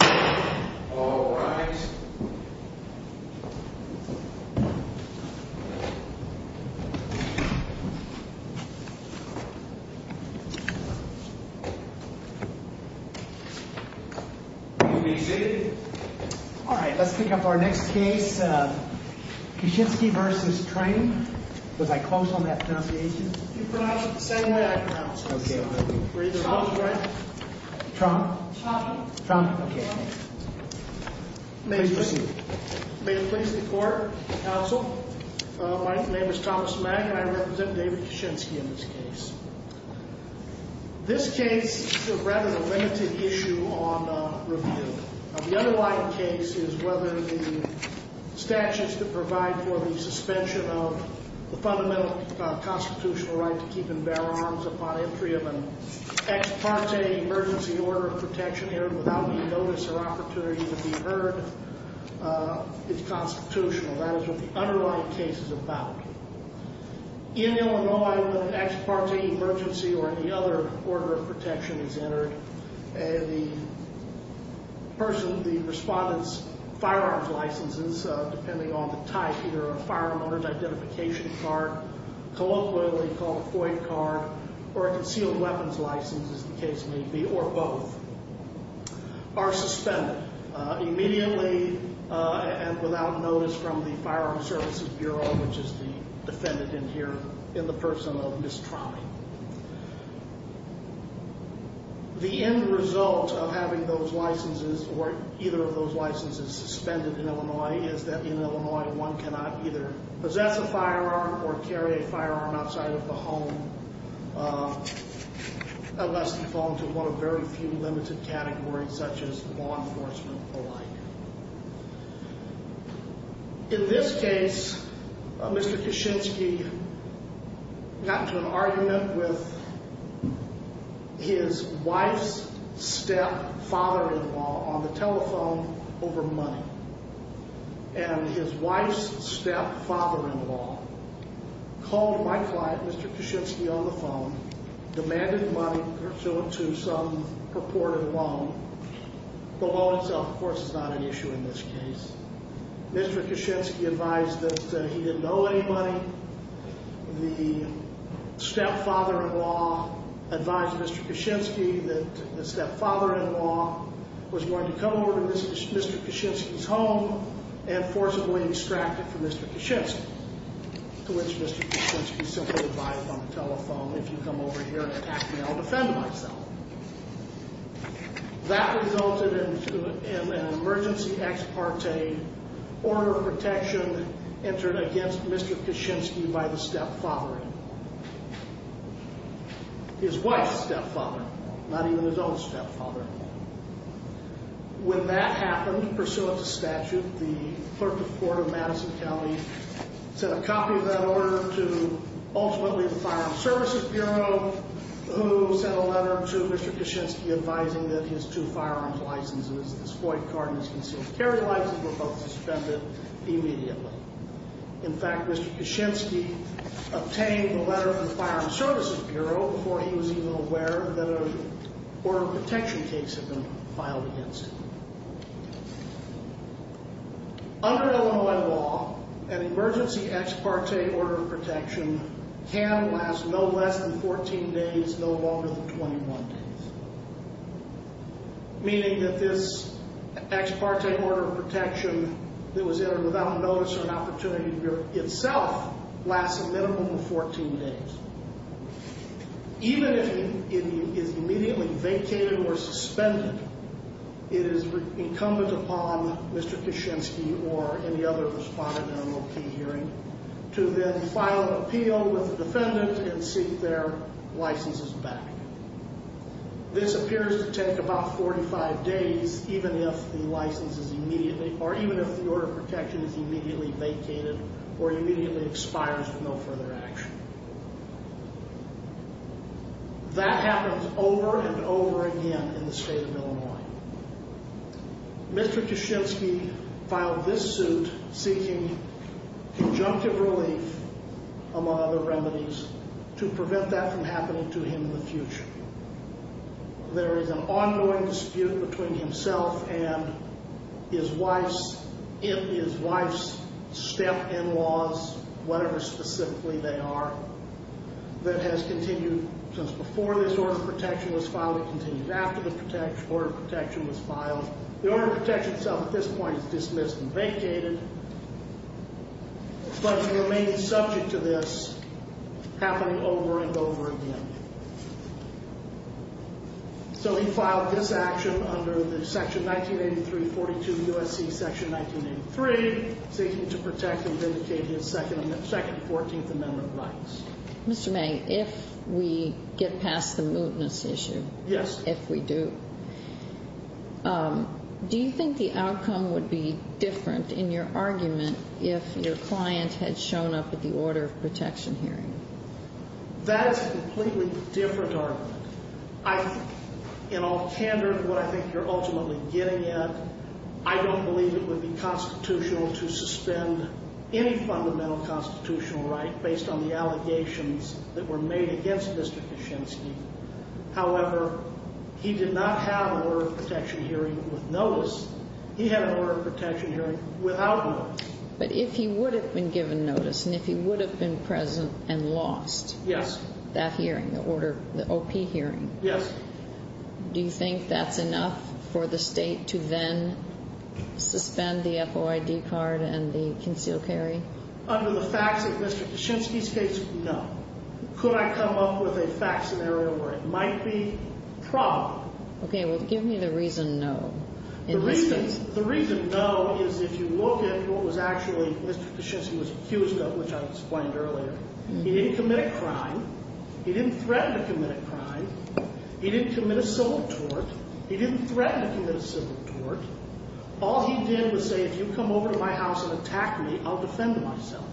Alright, let's pick up our next case. Koshinski v. Trame. Was I close on that pronunciation? You pronounced it the same way I pronounced it. Trame. May it please the court, counsel, my name is Thomas Mack and I represent David Koshinski in this case. This case is rather a limited issue on review. The underlying case is whether the statutes that provide for the suspension of the fundamental constitutional right to keep and bear arms upon entry of an ex parte emergency order of protection here without any notice or opportunity to be heard is constitutional. That is what the underlying case is about. In Illinois, when an ex parte emergency or any other order of protection is entered, the person, the respondent's firearms licenses, depending on the type, either a firearm owner's identification card, colloquially called a FOIA card, or a concealed weapons license as the case may be, or both, are suspended. Immediately and without notice from the Firearms Services Bureau, which is the defendant in here, in the person of Ms. Trame. The end result of having those licenses or either of those licenses suspended in Illinois is that in Illinois one cannot either possess a firearm or carry a firearm outside of the home unless you fall into one of very few limited categories such as law enforcement alike. In this case, Mr. Koshinski got into an argument with his wife's stepfather-in-law on the telephone over money. And his wife's stepfather-in-law called my client, Mr. Koshinski, on the phone, demanded money pursuant to some purported loan. The loan itself, of course, is not an issue in this case. Mr. Koshinski advised that he didn't owe anybody. The stepfather-in-law advised Mr. Koshinski that the stepfather-in-law was going to come over to Mr. Koshinski's home and forcibly extract it from Mr. Koshinski. To which Mr. Koshinski simply advised on the telephone, if you come over here and attack me, I'll defend myself. That resulted in an emergency ex parte order of protection entered against Mr. Koshinski by the stepfather-in-law. His wife's stepfather, not even his own stepfather. When that happened, pursuant to statute, the clerk of court of Madison County sent a copy of that order to ultimately the Firearms Services Bureau, who sent a letter to Mr. Koshinski advising that his two firearms licenses, his FOIA card and his concealed carry license, were both suspended immediately. In fact, Mr. Koshinski obtained the letter from the Firearms Services Bureau before he was even aware that an order of protection case had been filed against him. Under Illinois law, an emergency ex parte order of protection can last no less than 14 days, no longer than 21 days. Meaning that this ex parte order of protection that was entered without notice or an opportunity itself lasts a minimum of 14 days. Even if it is immediately vacated or suspended, it is incumbent upon Mr. Koshinski or any other respondent in an OP hearing to then file an appeal with the defendant and seek their licenses back. This appears to take about 45 days, even if the order of protection is immediately vacated or immediately expires with no further action. That happens over and over again in the state of Illinois. Mr. Koshinski filed this suit seeking conjunctive relief, among other remedies, to prevent that from happening to him in the future. There is an ongoing dispute between himself and his wife's step-in-laws, whatever specifically they are, that has continued since before this order of protection was filed. It continued after the order of protection was filed. The order of protection itself at this point is dismissed and vacated, but it remains subject to this happening over and over again. So he filed this action under Section 1983-42 U.S.C. Section 1983, seeking to protect and vindicate his Second Fourteenth Amendment rights. Mr. May, if we get past the mootness issue, if we do, do you think the outcome would be different in your argument if your client had shown up at the order of protection hearing? That's a completely different argument. I, in all candor to what I think you're ultimately getting at, I don't believe it would be constitutional to suspend any fundamental constitutional right based on the allegations that were made against Mr. Koshinski. However, he did not have an order of protection hearing with notice. He had an order of protection hearing without notice. But if he would have been given notice and if he would have been present and lost that hearing, the OP hearing, do you think that's enough for the State to then suspend the FOID card and the concealed carry? Under the facts of Mr. Koshinski's case, no. Could I come up with a fact scenario where it might be probable? Okay, well, give me the reason no. The reason no is if you look at what was actually Mr. Koshinski was accused of, which I explained earlier, he didn't commit a crime. He didn't threaten to commit a crime. He didn't commit a civil tort. He didn't threaten to commit a civil tort. All he did was say, if you come over to my house and attack me, I'll defend myself.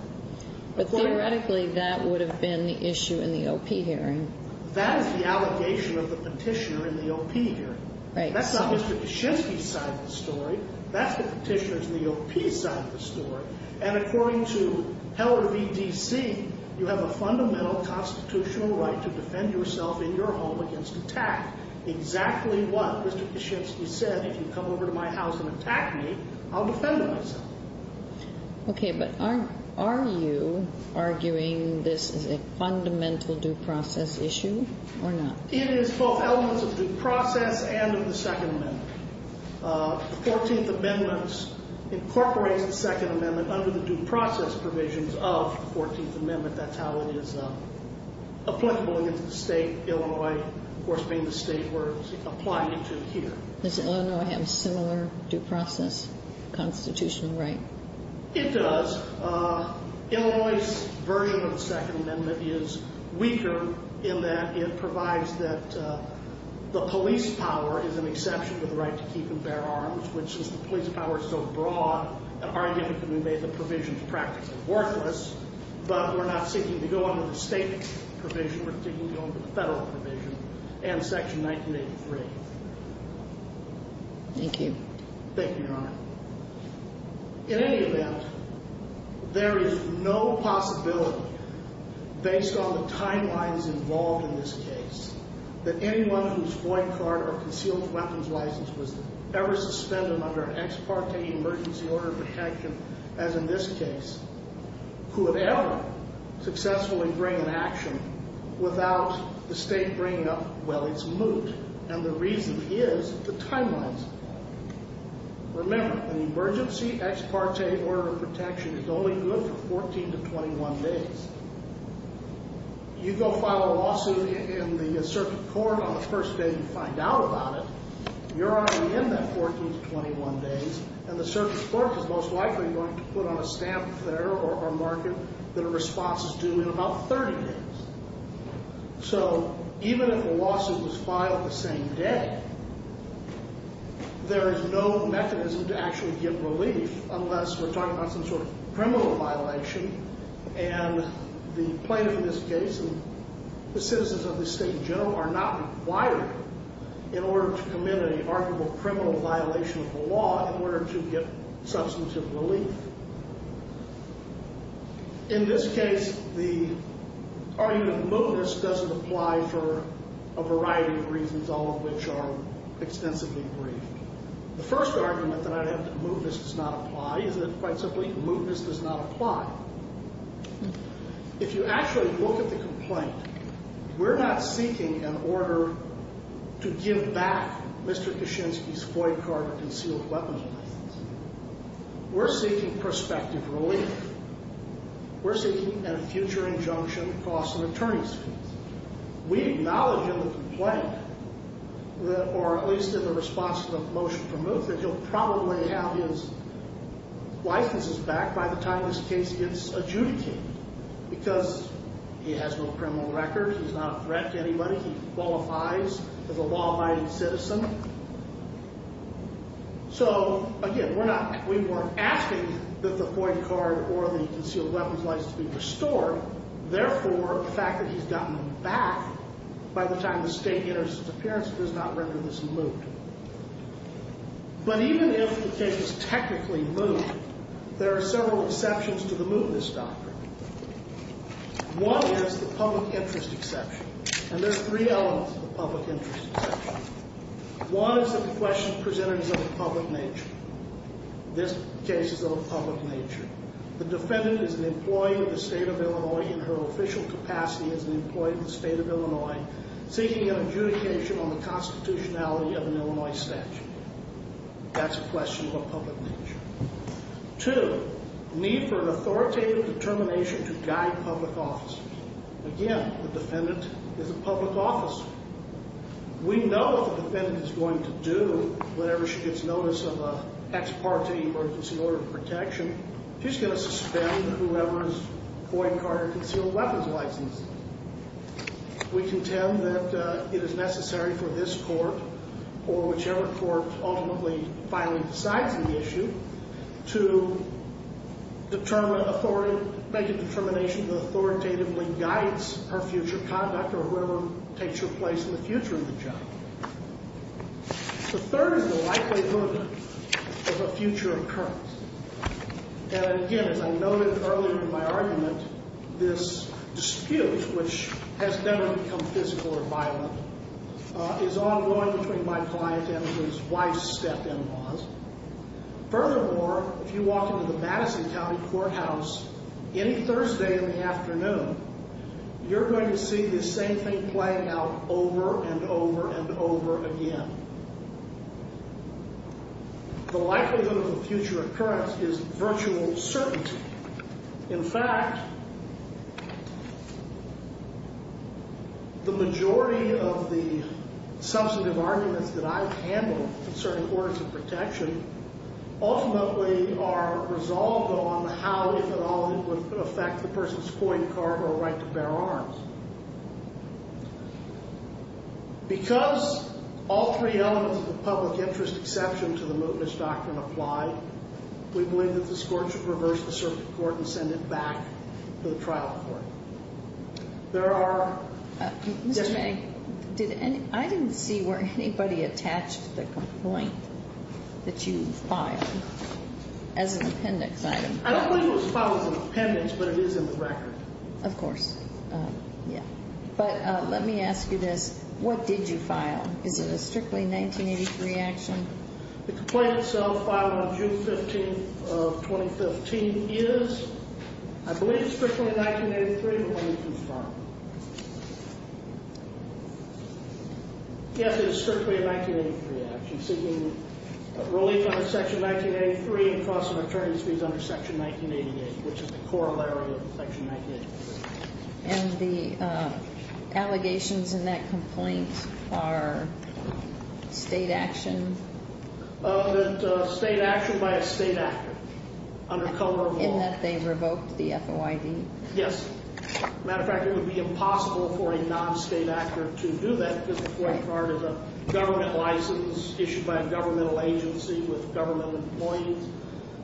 But theoretically, that would have been the issue in the OP hearing. That is the allegation of the Petitioner in the OP hearing. Right. That's not Mr. Koshinski's side of the story. That's the Petitioner's in the OP side of the story. And according to Heller v. D.C., you have a fundamental constitutional right to defend yourself in your home against attack. Exactly what Mr. Koshinski said, if you come over to my house and attack me, I'll defend myself. Okay, but are you arguing this is a fundamental due process issue or not? It is both elements of due process and of the Second Amendment. The Fourteenth Amendment incorporates the Second Amendment under the due process provisions of the Fourteenth Amendment. That's how it is applicable against the state, Illinois, of course, being the state we're applying it to here. Does Illinois have a similar due process constitutional right? It does. Illinois' version of the Second Amendment is weaker in that it provides that the police power is an exception to the right to keep and bear arms, which is the police power is so broad that arguably we made the provisions practically worthless. But we're not seeking to go under the state provision. We're seeking to go under the federal provision and Section 1983. Thank you. Thank you, Your Honor. In any event, there is no possibility, based on the timelines involved in this case, that anyone whose white card or concealed weapons license was ever suspended under an ex parte emergency order of a hedge, as in this case, who would ever successfully bring an action without the state bringing up, well, its moot. And the reason is the timelines. Remember, an emergency ex parte order of protection is only good for 14 to 21 days. You go file a lawsuit in the circuit court on the first day you find out about it, you're already in that 14 to 21 days, and the circuit court is most likely going to put on a stamp there or mark it that a response is due in about 30 days. So even if a lawsuit was filed the same day, there is no mechanism to actually get relief unless we're talking about some sort of criminal violation, and the plaintiff in this case and the citizens of this state in general are not required in order to commit an arguable criminal violation of the law in order to get substantive relief. In this case, the argument of mootness doesn't apply for a variety of reasons, all of which are extensively brief. The first argument that I have that mootness does not apply is that, quite simply, mootness does not apply. If you actually look at the complaint, we're not seeking an order to give back Mr. Kishinsky's FOIA card or concealed weapons license. We're seeking prospective relief. We're seeking a future injunction across an attorney's fees. We acknowledge in the complaint, or at least in the response to the motion for moot, that he'll probably have his licenses back by the time this case gets adjudicated because he has no criminal record, he's not a threat to anybody, he qualifies as a law-abiding citizen. So, again, we're not asking that the FOIA card or the concealed weapons license be restored. Therefore, the fact that he's gotten them back by the time the state enters his appearance does not render this moot. But even if the case is technically moot, there are several exceptions to the mootness doctrine. One is the public interest exception, and there are three elements to the public interest exception. One is that the question presented is of a public nature. This case is of a public nature. The defendant is an employee of the state of Illinois in her official capacity as an employee of the state of Illinois seeking an adjudication on the constitutionality of an Illinois statute. That's a question of a public nature. Two, need for an authoritative determination to guide public officers. Again, the defendant is a public officer. We know what the defendant is going to do whenever she gets notice of an ex parte emergency order of protection. She's going to suspend whoever's FOIA card or concealed weapons license. We contend that it is necessary for this court or whichever court ultimately finally decides on the issue to make a determination that authoritatively guides her future conduct or wherever it takes her place in the future of the job. The third is the likelihood of a future occurrence. And again, as I noted earlier in my argument, this dispute, which has never become physical or violent, is ongoing between my client and his wife's step-in laws. Furthermore, if you walk into the Madison County Courthouse any Thursday in the afternoon, you're going to see this same thing play out over and over and over again. The likelihood of a future occurrence is virtual certainty. In fact, the majority of the substantive arguments that I've handled concerning orders of protection ultimately are resolved on how, if at all, it would affect the person's FOIA card or right to bear arms. Because all three elements of the public interest exception to the mootness doctrine apply, we believe that this court should reverse the circuit court and send it back to the trial court. There are... Mr. May, I didn't see where anybody attached the complaint that you filed as an appendix item. I don't believe it was filed as an appendix, but it is in the record. Of course. Yeah. But let me ask you this. What did you file? Is it a strictly 1983 action? The complaint itself, filed on June 15th of 2015, is, I believe, strictly 1983, but let me confirm. Yes, it is strictly a 1983 action, seeking relief under Section 1983 and cost of attorney's fees under Section 1988, which is the corollary of Section 1983. And the allegations in that complaint are state action? State action by a state actor, under cover of law. In that they revoked the FOID? Yes. As a matter of fact, it would be impossible for a non-state actor to do that, because the FOIA card is a government license issued by a governmental agency with government employees.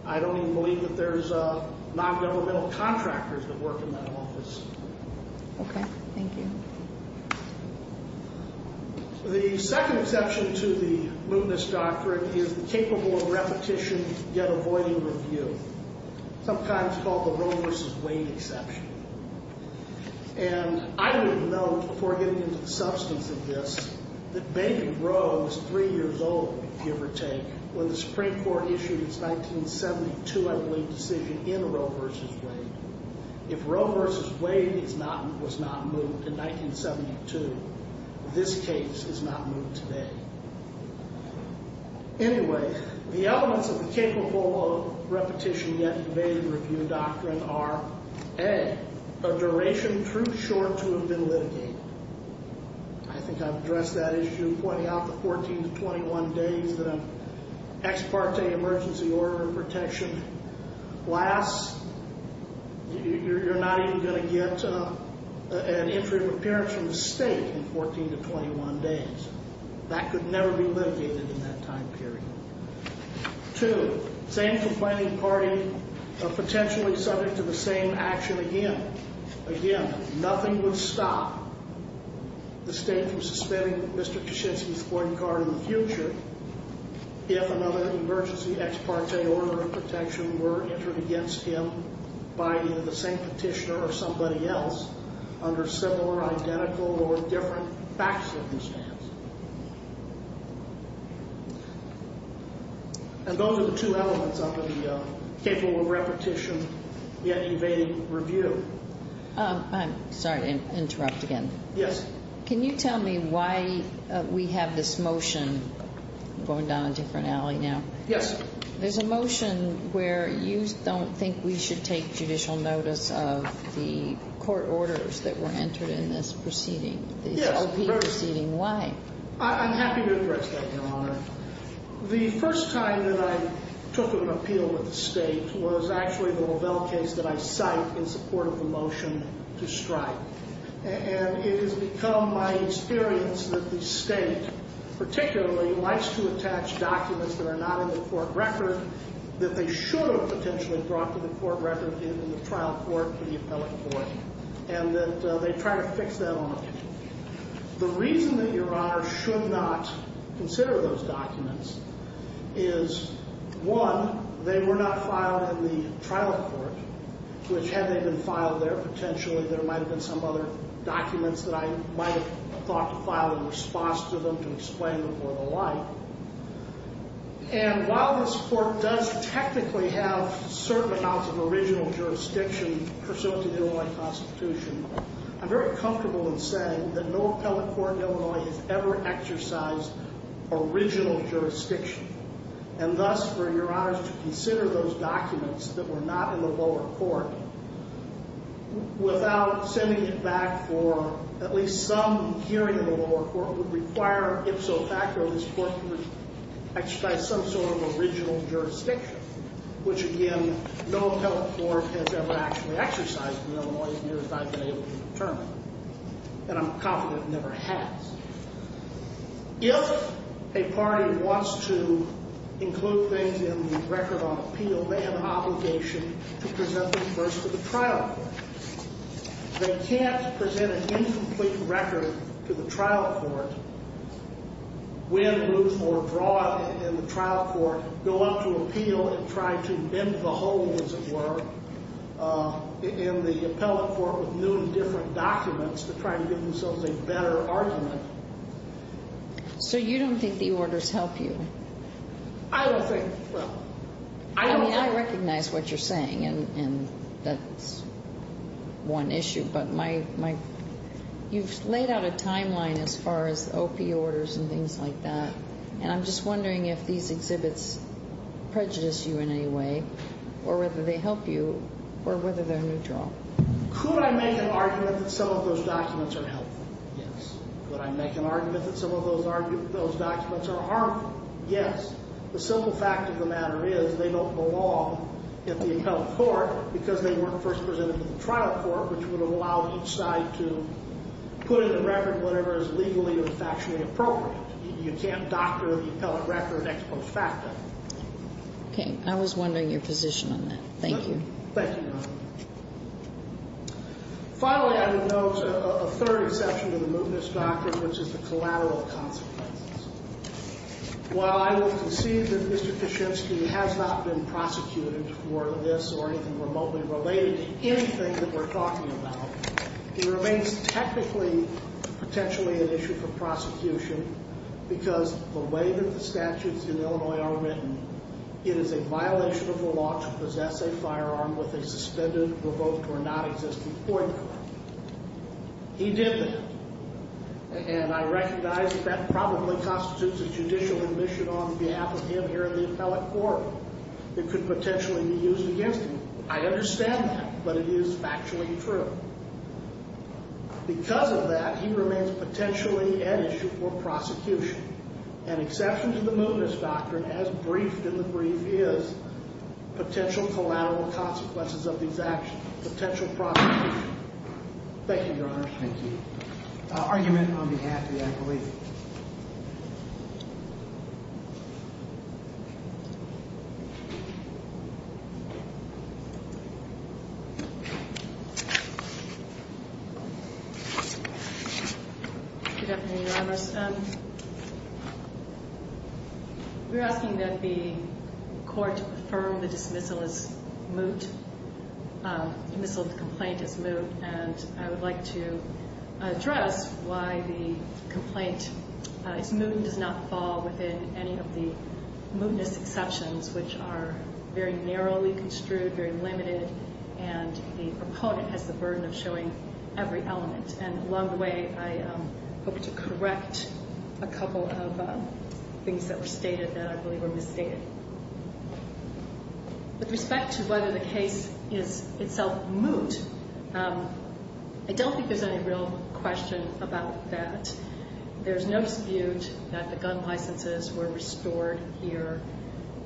I don't even believe that there's non-governmental contractors that work in that office. Okay. Thank you. The second exception to the mootness doctrine is the capable of repetition yet avoiding review, sometimes called the Roe v. Wade exception. And I would note, before getting into the substance of this, that Bacon Roe was three years old, give or take, when the Supreme Court issued its 1972, I believe, decision in Roe v. Wade. If Roe v. Wade was not moot in 1972, this case is not moot today. Anyway, the elements of the capable of repetition yet evading review doctrine are, A, a duration too short to have been litigated. I think I've addressed that issue, pointing out the 14 to 21 days that an ex parte emergency order of protection lasts. You're not even going to get an entry of appearance from the state in 14 to 21 days. That could never be litigated in that time period. Two, same complaining party potentially subject to the same action again. Again, nothing would stop the state from suspending Mr. Kaczynski's court card in the future if another emergency ex parte order of protection were entered against him by either the same petitioner or somebody else under similar, identical, or different fact circumstances. And those are the two elements under the capable of repetition yet evading review. I'm sorry to interrupt again. Yes. Can you tell me why we have this motion going down a different alley now? Yes. There's a motion where you don't think we should take judicial notice of the court orders that were entered in this proceeding. Yes, of course. Why? I'm happy to address that, Your Honor. The first time that I took an appeal with the state was actually the Lovell case that I cite in support of the motion to strike. And it has become my experience that the state particularly likes to attach documents that are not in the court record that they should have potentially brought to the court record in the trial court for the appellate court, and that they try to fix that on it. The reason that Your Honor should not consider those documents is, one, they were not filed in the trial court, which had they been filed there, potentially there might have been some other documents that I might have thought to file in response to them to explain them or the like. And while this court does technically have certain amounts of original jurisdiction pursuant to the Illinois Constitution, I'm very comfortable in saying that no appellate court in Illinois has ever exercised original jurisdiction. And thus, for Your Honor to consider those documents that were not in the lower court without sending it back for at least some hearing in the lower court would require, if so facto, this court would exercise some sort of original jurisdiction, which, again, no appellate court has ever actually exercised in Illinois, as near as I've been able to determine. And I'm confident it never has. If a party wants to include things in the record on appeal, they have an obligation to present these first to the trial court. They can't present an incomplete record to the trial court, win, lose, or draw in the trial court, go up to appeal and try to bend the whole, as it were, in the appellate court with new and different documents to try to give themselves a better argument. So you don't think the orders help you? I don't think. I mean, I recognize what you're saying, and that's one issue, but you've laid out a timeline as far as OP orders and things like that, and I'm just wondering if these exhibits prejudice you in any way or whether they help you or whether they're neutral. Could I make an argument that some of those documents are helpful? Yes. Could I make an argument that some of those documents are harmful? Yes. The simple fact of the matter is they don't belong at the appellate court because they weren't first presented to the trial court, which would allow each side to put in the record whatever is legally or factually appropriate. You can't doctor the appellate record ex post facto. Okay. I was wondering your position on that. Thank you. Thank you, Your Honor. Finally, I would note a third exception to the Moodness Doctrine, which is the collateral consequences. While I will concede that Mr. Kaczynski has not been prosecuted for this or anything remotely related to anything that we're talking about, he remains technically potentially an issue for prosecution because the way that the statutes in Illinois are written, it is a violation of the law to possess a firearm with a suspended, revoked, or nonexistent point. He did that. And I recognize that that probably constitutes a judicial admission on behalf of him here in the appellate court. It could potentially be used against him. I understand that, but it is factually true. Because of that, he remains potentially an issue for prosecution. An exception to the Moodness Doctrine, as briefed in the brief, is potential collateral consequences of these actions, potential prosecution. Thank you, Your Honor. Thank you. Argument on behalf of the appellate. Good afternoon, Your Honor. We're asking that the court affirm the dismissal as moot, dismissal of the complaint as moot, and I would like to address why the complaint is moot and does not fall within any of the mootness exceptions, which are very narrowly construed, very limited, and the proponent has the burden of showing every element. And along the way, I hope to correct a couple of things that were stated that I believe were misstated. With respect to whether the case is itself moot, I don't think there's any real question about that. There's no dispute that the gun licenses were restored here,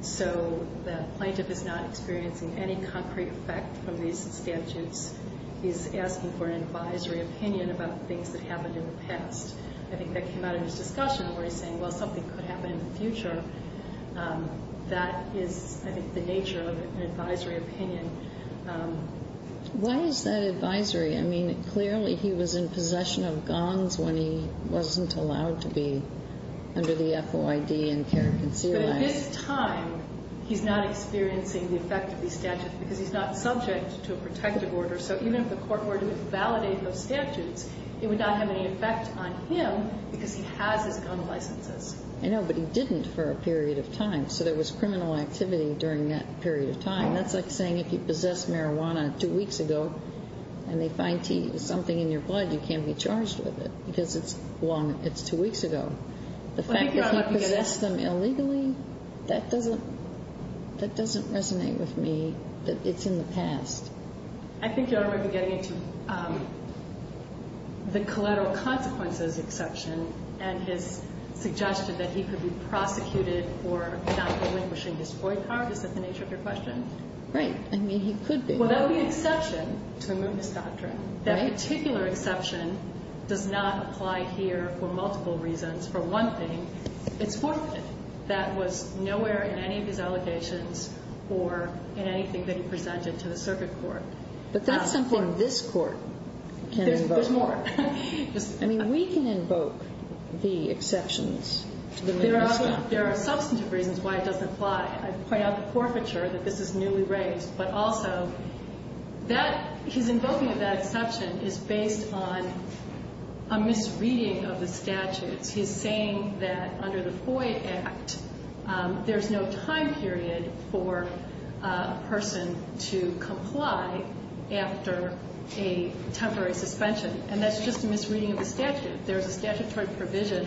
so the plaintiff is not experiencing any concrete effect from these statutes. He's asking for an advisory opinion about things that happened in the past. I think that came out in his discussion where he's saying, well, something could happen in the future. That is, I think, the nature of an advisory opinion. Why is that advisory? I mean, clearly he was in possession of guns when he wasn't allowed to be under the FOID and care concealment. But at this time, he's not experiencing the effect of these statutes because he's not subject to a protective order. So even if the court were to validate those statutes, it would not have any effect on him because he has his gun licenses. I know, but he didn't for a period of time. So there was criminal activity during that period of time. That's like saying if you possess marijuana two weeks ago and they find something in your blood, you can't be charged with it because it's two weeks ago. The fact that he possessed them illegally, that doesn't resonate with me. It's in the past. I think you're already getting into the collateral consequences exception and his suggestion that he could be prosecuted for not relinquishing his FOID card. Is that the nature of your question? Right. I mean, he could be. Well, that would be exception to a mootness doctrine. That particular exception does not apply here for multiple reasons. For one thing, it's forfeited. That was nowhere in any of his allegations or in anything that he presented to the circuit court. But that's something this court can invoke. There's more. I mean, we can invoke the exceptions to the mootness doctrine. There are substantive reasons why it doesn't apply. I point out the forfeiture, that this is newly raised. But also, his invoking of that exception is based on a misreading of the statutes. He's saying that under the FOID Act, there's no time period for a person to comply after a temporary suspension. And that's just a misreading of the statute. There's a statutory provision,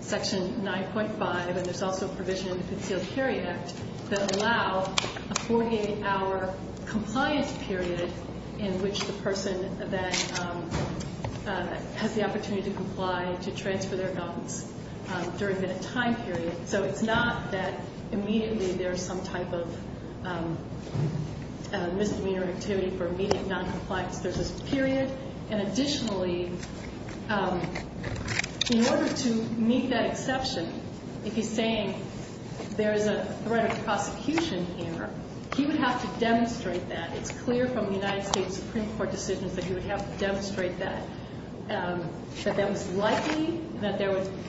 Section 9.5, and there's also a provision in the Concealed Carry Act, that allow a 48-hour compliance period in which the person that has the opportunity to comply to transfer their notes during that time period. So it's not that immediately there's some type of misdemeanor activity for immediate noncompliance. There's this period. And additionally, in order to meet that exception, if he's saying there is a threat of prosecution here, he would have to demonstrate that. It's clear from the United States Supreme Court decisions that he would have to demonstrate that. But that was likely that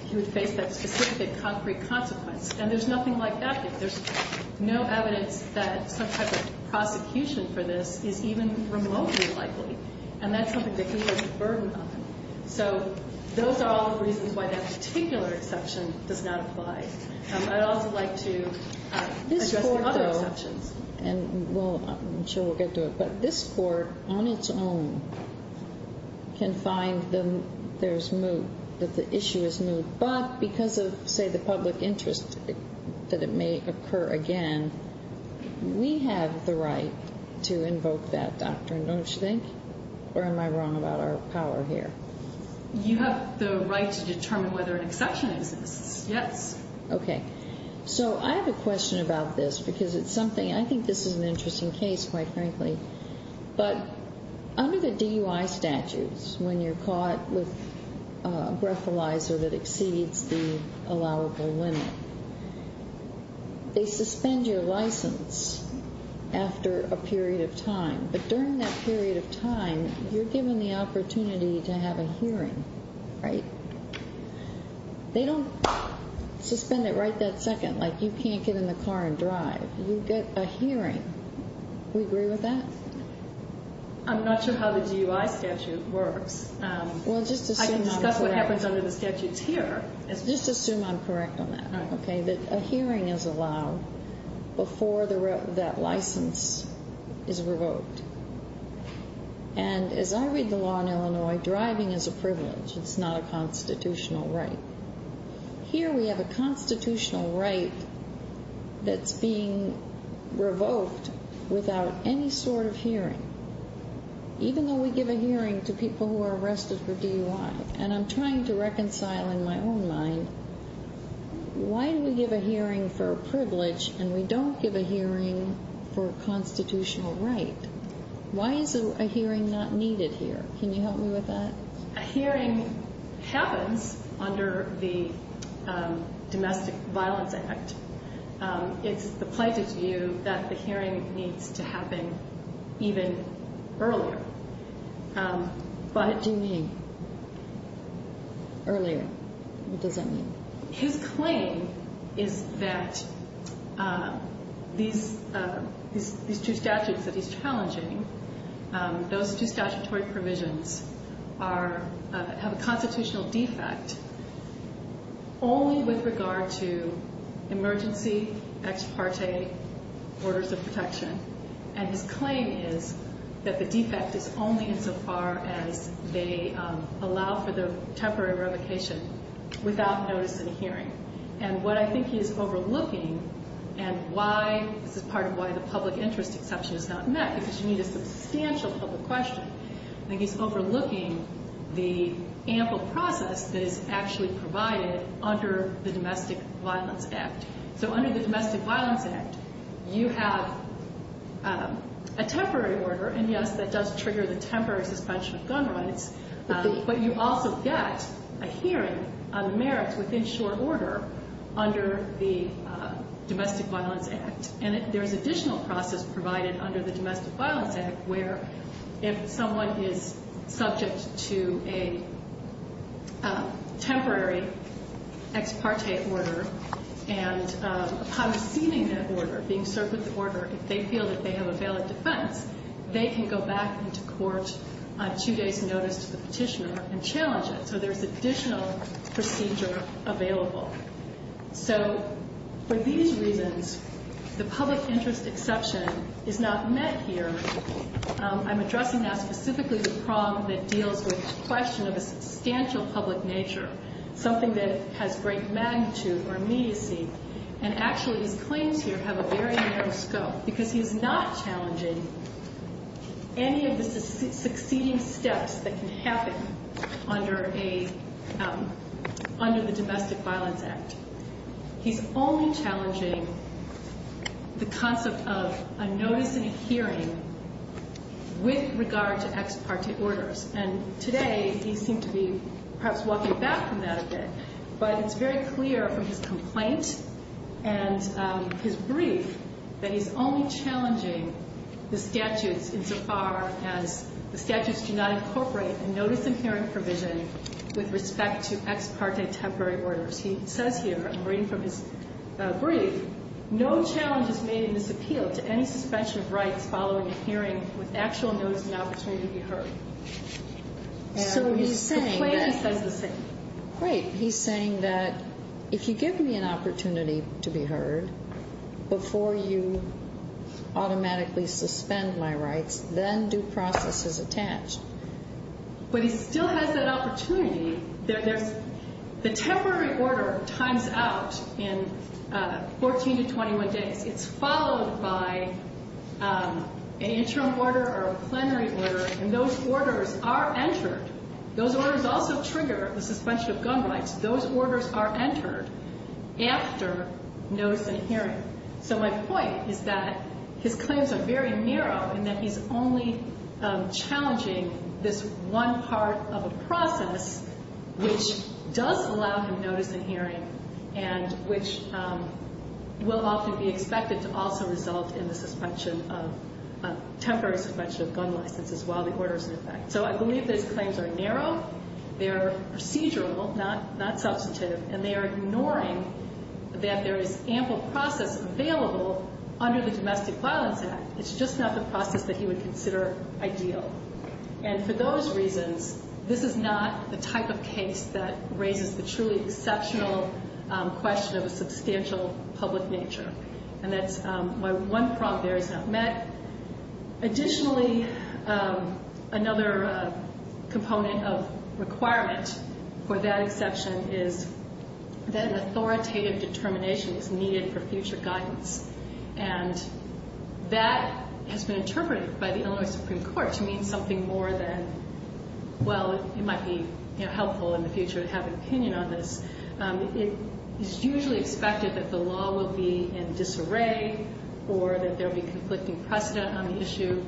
he would face that specific, concrete consequence. And there's nothing like that. There's no evidence that some type of prosecution for this is even remotely likely. And that's something that he has a burden on. So those are all the reasons why that particular exception does not apply. I'd also like to address the other exceptions. This Court, though, and I'm sure we'll get to it, but this Court, on its own, can find that there's moot, that the issue is moot. But because of, say, the public interest that it may occur again, we have the right to invoke that doctrine, don't you think? Or am I wrong about our power here? You have the right to determine whether an exception exists, yes. Okay. So I have a question about this because it's something – I think this is an interesting case, quite frankly. But under the DUI statutes, when you're caught with a breathalyzer that exceeds the allowable limit, they suspend your license after a period of time. But during that period of time, you're given the opportunity to have a hearing, right? They don't suspend it right that second, like you can't get in the car and drive. You get a hearing. We agree with that? I'm not sure how the DUI statute works. Well, just assume I'm correct. I can discuss what happens under the statutes here. Just assume I'm correct on that, okay, that a hearing is allowed before that license is revoked. And as I read the law in Illinois, driving is a privilege. It's not a constitutional right. Here we have a constitutional right that's being revoked without any sort of hearing, even though we give a hearing to people who are arrested for DUI. And I'm trying to reconcile in my own mind, why do we give a hearing for a privilege and we don't give a hearing for a constitutional right? Why is a hearing not needed here? Can you help me with that? A hearing happens under the Domestic Violence Act. It's the plaintiff's view that the hearing needs to happen even earlier. But do you mean earlier? What does that mean? His claim is that these two statutes that he's challenging, those two statutory provisions have a constitutional defect only with regard to emergency, ex parte, orders of protection. And his claim is that the defect is only insofar as they allow for the temporary revocation without notice in a hearing. And what I think he is overlooking, and this is part of why the public interest exception is not met, because you need a substantial public question, I think he's overlooking the ample process that is actually provided under the Domestic Violence Act. So under the Domestic Violence Act, you have a temporary order, and yes, that does trigger the temporary suspension of gun rights, but you also get a hearing on the merits within short order under the Domestic Violence Act. And there's additional process provided under the Domestic Violence Act where if someone is subject to a temporary ex parte order, and upon receiving that order, being served with the order, if they feel that they have a valid defense, they can go back into court on two days' notice to the petitioner and challenge it. So there's additional procedure available. So for these reasons, the public interest exception is not met here. I'm addressing now specifically the problem that deals with the question of a substantial public nature, something that has great magnitude or immediacy, and actually his claims here have a very narrow scope because he's not challenging any of the succeeding steps that can happen under the Domestic Violence Act. He's only challenging the concept of a notice and a hearing with regard to ex parte orders. And today, he seemed to be perhaps walking back from that a bit, but it's very clear from his complaint and his brief that he's only challenging the statutes insofar as the statutes do not incorporate a notice and hearing provision with respect to ex parte temporary orders. He says here, I'm reading from his brief, no challenge is made in this appeal to any suspension of rights following a hearing with actual notice and opportunity to be heard. So he's saying that if you give me an opportunity to be heard before you automatically suspend my rights, then due process is attached. But he still has that opportunity. The temporary order times out in 14 to 21 days. It's followed by an interim order or a plenary order, and those orders are entered. Those orders also trigger the suspension of gun rights. Those orders are entered after notice and hearing. So my point is that his claims are very narrow and that he's only challenging this one part of a process which does allow him notice and hearing, and which will often be expected to also result in the temporary suspension of gun licenses while the order is in effect. So I believe those claims are narrow, they're procedural, not substantive, and they are ignoring that there is ample process available under the Domestic Violence Act. It's just not the process that he would consider ideal. And for those reasons, this is not the type of case that raises the truly exceptional question of a substantial public nature. And that's why one prompt there is not met. Additionally, another component of requirement for that exception is that an authoritative determination is needed for future guidance. And that has been interpreted by the Illinois Supreme Court to mean something more than, well, it might be helpful in the future to have an opinion on this. It is usually expected that the law will be in disarray or that there will be conflicting precedent on the issue.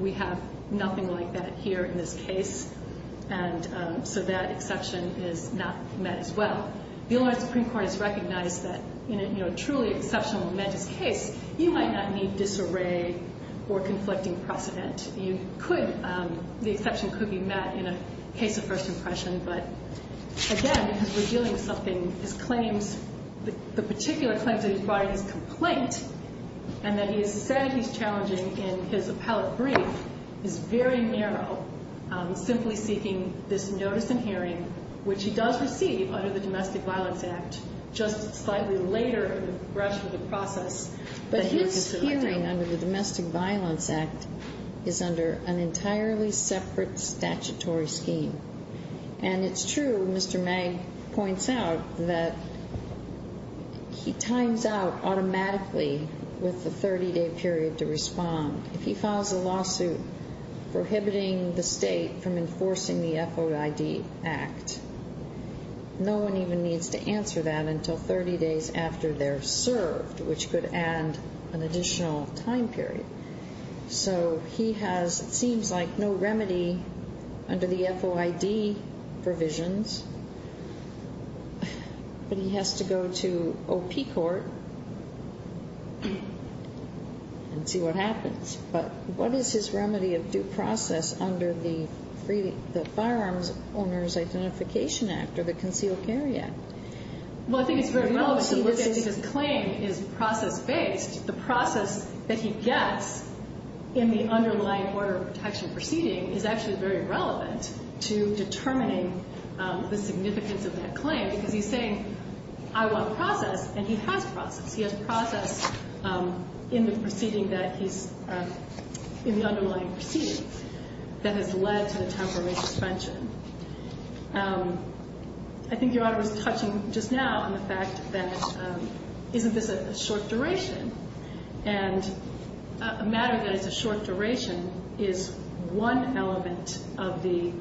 We have nothing like that here in this case, and so that exception is not met as well. But the Illinois Supreme Court has recognized that in a truly exceptional momentous case, you might not need disarray or conflicting precedent. You could, the exception could be met in a case of first impression, but again, because we're dealing with something, his claims, the particular claims that he brought in his complaint, and that he has said he's challenging in his appellate brief is very narrow, simply seeking this notice and hearing, which he does receive under the Domestic Violence Act, just slightly later in the rush of the process. But his hearing under the Domestic Violence Act is under an entirely separate statutory scheme. And it's true, Mr. Magg points out, that he times out automatically with the 30-day period to respond. If he files a lawsuit prohibiting the state from enforcing the FOID Act, no one even needs to answer that until 30 days after they're served, which could add an additional time period. So he has, it seems like, no remedy under the FOID provisions, but he has to go to OP court and see what happens. But what is his remedy of due process under the Firearms Owners Identification Act or the Concealed Carry Act? Well, I think it's very relevant to look at, because his claim is process-based. The process that he gets in the underlying order of protection proceeding is actually very relevant to determining the significance of that claim, because he's saying, I want process, and he has process. He has process in the proceeding that he's, in the underlying proceeding that has led to the temporary suspension. I think Your Honor was touching just now on the fact that isn't this a short duration? And a matter that is a short duration is one element of the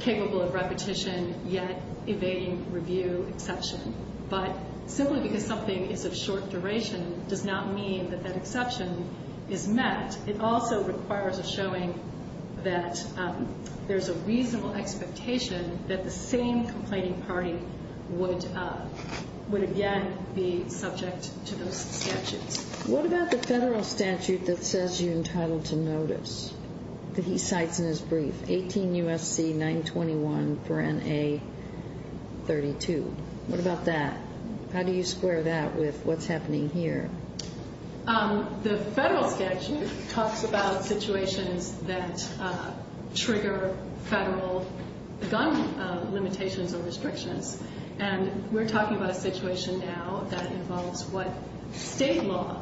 capable-of-repetition-yet-evading-review exception. But simply because something is of short duration does not mean that that exception is met. It also requires a showing that there's a reasonable expectation that the same complaining party would, again, be subject to those statutes. What about the federal statute that says you're entitled to notice that he cites in his brief? 18 U.S.C. 921 for N.A. 32. What about that? How do you square that with what's happening here? The federal statute talks about situations that trigger federal gun limitations or restrictions. And we're talking about a situation now that involves what state law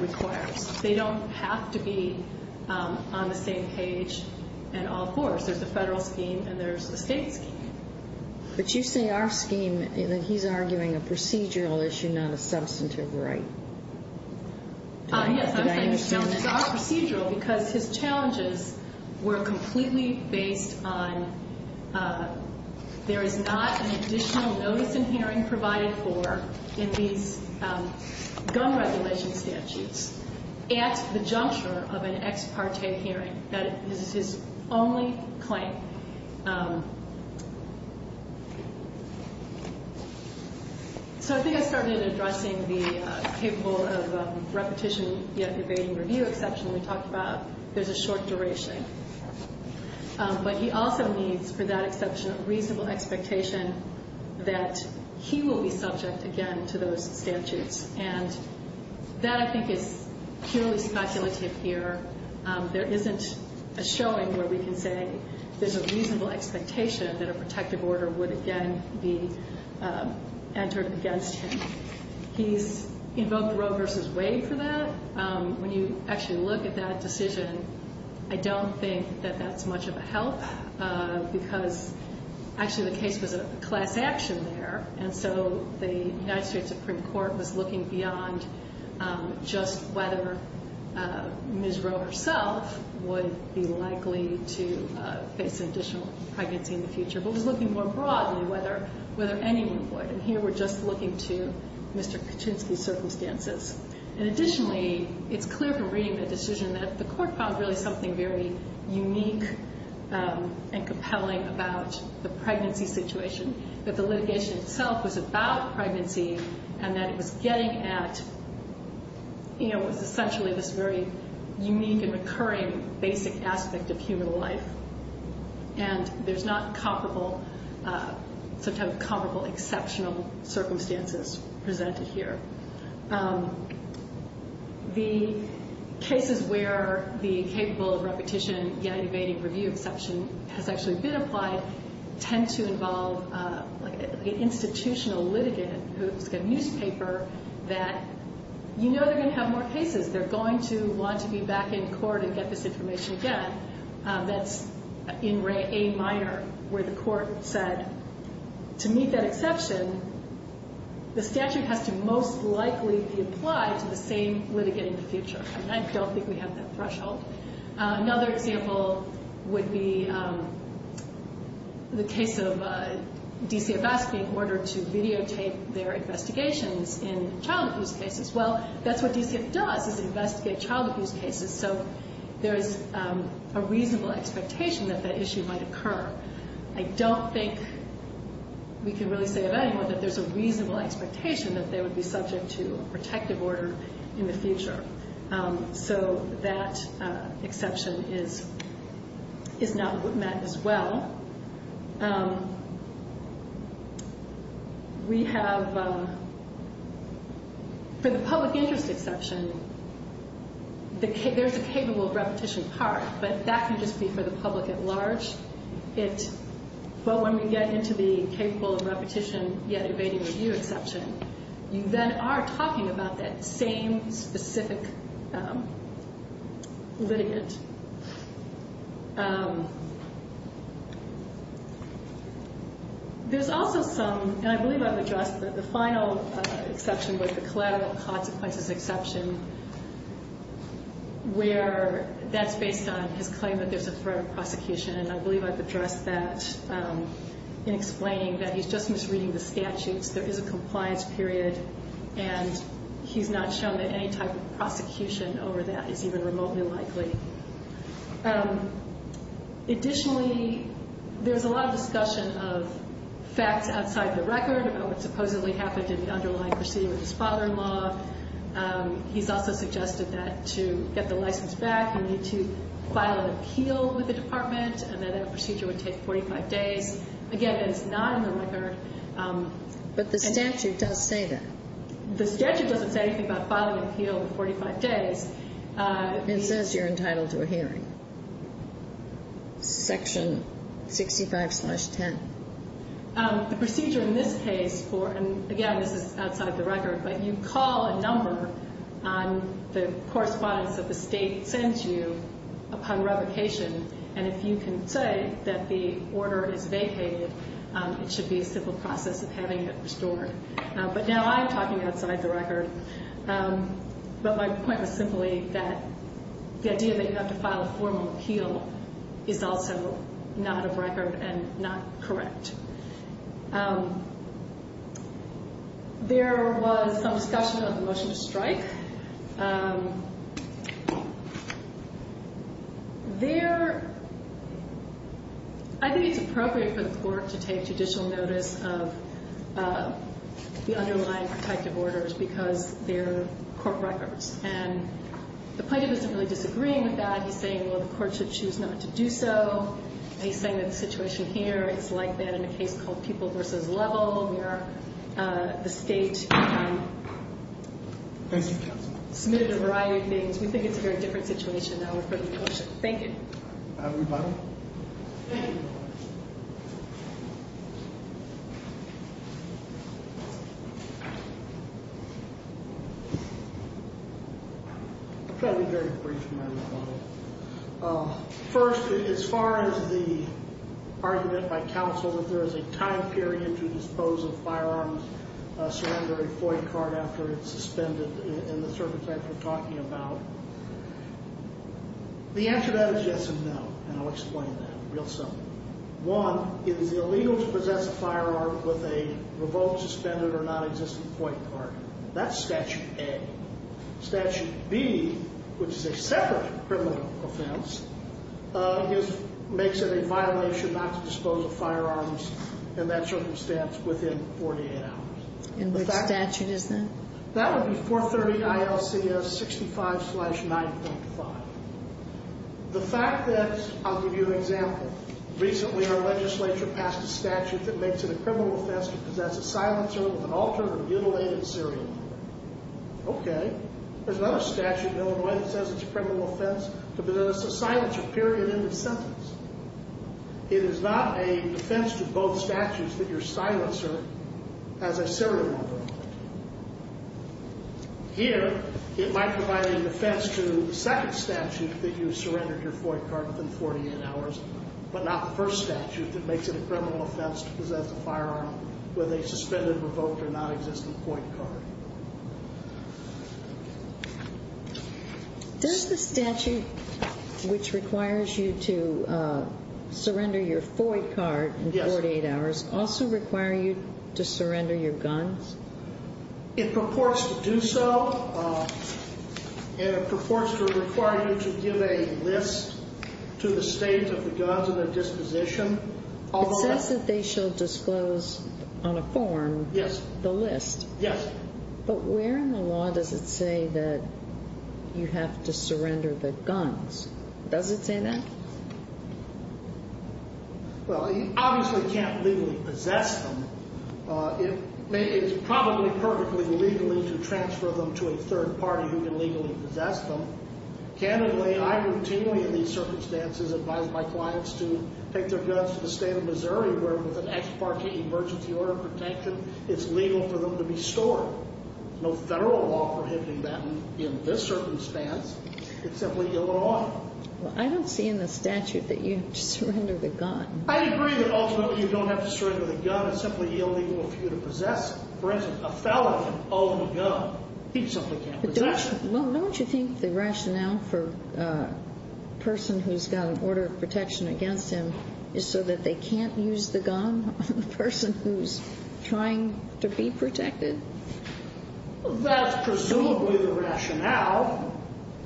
requires. They don't have to be on the same page in all fours. There's the federal scheme, and there's the state scheme. But you say our scheme, and he's arguing a procedural issue, not a substantive right. Yes, I'm saying it's not procedural because his challenges were completely based on there is not an additional notice in hearing provided for in these gun regulation statutes at the juncture of an ex parte hearing. That is his only claim. So I think I started addressing the capable of repetition yet debating review exception we talked about. There's a short duration. But he also needs, for that exception, a reasonable expectation that he will be subject, again, to those statutes. And that, I think, is purely speculative here. There isn't a showing where we can say there's a reasonable expectation that a protective order would, again, be entered against him. He's invoked Roe v. Wade for that. When you actually look at that decision, I don't think that that's much of a help because actually the case was a class action there. And so the United States Supreme Court was looking beyond just whether Ms. Roe herself would be likely to face additional pregnancy in the future, but was looking more broadly whether anyone would. And here we're just looking to Mr. Kaczynski's circumstances. And additionally, it's clear from reading the decision that the court found really something very unique and compelling about the pregnancy situation, that the litigation itself was about pregnancy and that it was getting at, you know, it was essentially this very unique and recurring basic aspect of human life. And there's not comparable, sometimes comparable, exceptional circumstances presented here. The cases where the capable of repetition, yet evading review exception has actually been applied tend to involve an institutional litigant who's got a newspaper that you know they're going to have more cases. They're going to want to be back in court and get this information again. That's in a minor where the court said to meet that exception, the statute has to most likely be applied to the same litigant in the future. And I don't think we have that threshold. Another example would be the case of DCFS being ordered to videotape their investigations in child abuse cases. Well, that's what DCFS does is investigate child abuse cases. So there's a reasonable expectation that that issue might occur. I don't think we can really say of anyone that there's a reasonable expectation that they would be subject to a protective order in the future. So that exception is not met as well. We have, for the public interest exception, there's a capable of repetition part, but that can just be for the public at large. But when we get into the capable of repetition, yet evading review exception, you then are talking about that same specific litigant. There's also some, and I believe I've addressed the final exception with the collateral consequences exception, where that's based on his claim that there's a threat of prosecution. And I believe I've addressed that in explaining that he's just misreading the statutes. There is a compliance period, and he's not shown that any type of prosecution over that is even remotely likely. Additionally, there's a lot of discussion of facts outside the record, about what supposedly happened in the underlying procedure with his father-in-law. He's also suggested that to get the license back, you need to file an appeal with the department, and that that procedure would take 45 days. Again, it's not in the record. But the statute does say that. The statute doesn't say anything about filing an appeal in 45 days. It says you're entitled to a hearing. Section 65-10. The procedure in this case for, and again, this is outside the record, but you call a number on the correspondence that the state sends you upon revocation, and if you can say that the order is vacated, it should be a simple process of having it restored. But now I'm talking outside the record. But my point was simply that the idea that you have to file a formal appeal is also not a record and not correct. There was some discussion of the motion to strike. I think it's appropriate for the court to take judicial notice of the underlying protective orders because they're court records. And the plaintiff isn't really disagreeing with that. He's saying, well, the court should choose not to do so. He's saying that the situation here is like that in a case called People v. Level, where the state submitted a variety of things. We think it's a very different situation now with revocation. Thank you. I have a rebuttal. Thank you. I'll try to be very brief in my rebuttal. First, as far as the argument by counsel that there is a time period to dispose of firearms, surrender a FOIA card after it's suspended in the circumstance we're talking about, the answer to that is yes and no. And I'll explain that real simply. One, it is illegal to possess a firearm with a revoked, suspended, or nonexistent FOIA card. That's Statute A. Statute B, which is a separate criminal offense, makes it a violation not to dispose of firearms in that circumstance within 48 hours. And what statute is that? That would be 430 ILCS 65-9.5. The fact that, I'll give you an example, recently our legislature passed a statute that makes it a criminal offense to possess a silencer with an altered or mutilated serial number. Okay. There's another statute in Illinois that says it's a criminal offense to possess a silencer period in the sentence. It is not a defense to both statutes that your silencer has a serial number. Here, it might provide a defense to the second statute that you surrendered your FOIA card within 48 hours, but not the first statute that makes it a criminal offense to possess a firearm with a suspended, revoked, or nonexistent FOIA card. Does the statute which requires you to surrender your FOIA card in 48 hours also require you to surrender your guns? It purports to do so. It purports to require you to give a list to the state of the guns and their disposition. It says that they shall disclose on a form the list. Yes. But where in the law does it say that you have to surrender the guns? Does it say that? Well, you obviously can't legally possess them. It's probably perfectly legal to transfer them to a third party who can legally possess them. Candidly, I routinely, in these circumstances, advise my clients to take their guns to the state of Missouri where, with an ex parte emergency order of protection, it's legal for them to be stored. No federal law prohibiting that in this circumstance. It's simply illegal. Well, I don't see in the statute that you have to surrender the gun. I agree that ultimately you don't have to surrender the gun. It's simply illegal for you to possess it. For instance, a felon can own a gun. He simply can't possess it. Well, don't you think the rationale for a person who's got an order of protection against him is so that they can't use the gun on the person who's trying to be protected? That's presumably the rationale.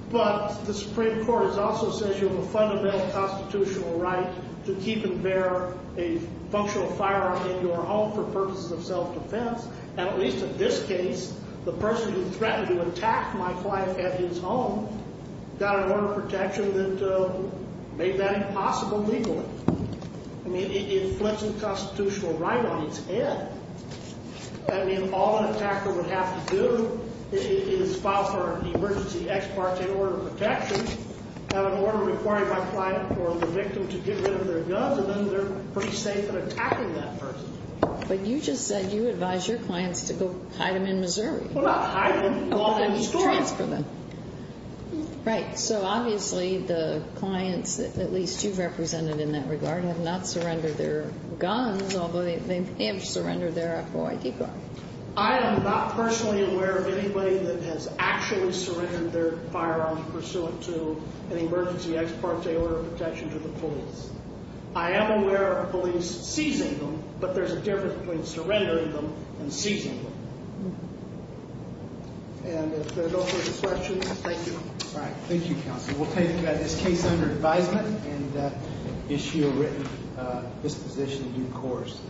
But the Supreme Court also says you have a fundamental constitutional right to keep and bear a functional firearm in your home for purposes of self-defense. At least in this case, the person who threatened to attack my client at his home got an order of protection that made that impossible legally. I mean, it flips the constitutional right on its head. I mean, all an attacker would have to do is file for an emergency ex parte order of protection, have an order requiring my client or the victim to get rid of their guns, and then they're pretty safe in attacking that person. But you just said you advise your clients to go hide them in Missouri. Transfer them. Right. So obviously the clients, at least you've represented in that regard, have not surrendered their guns, although they have surrendered their FOID card. I am not personally aware of anybody that has actually surrendered their firearm pursuant to an emergency ex parte order of protection to the police. I am aware of police seizing them, but there's a difference between surrendering them and seizing them. And if there are no further questions, thank you. All right. Thank you, counsel. We'll take this case under advisement and issue a written disposition in due course.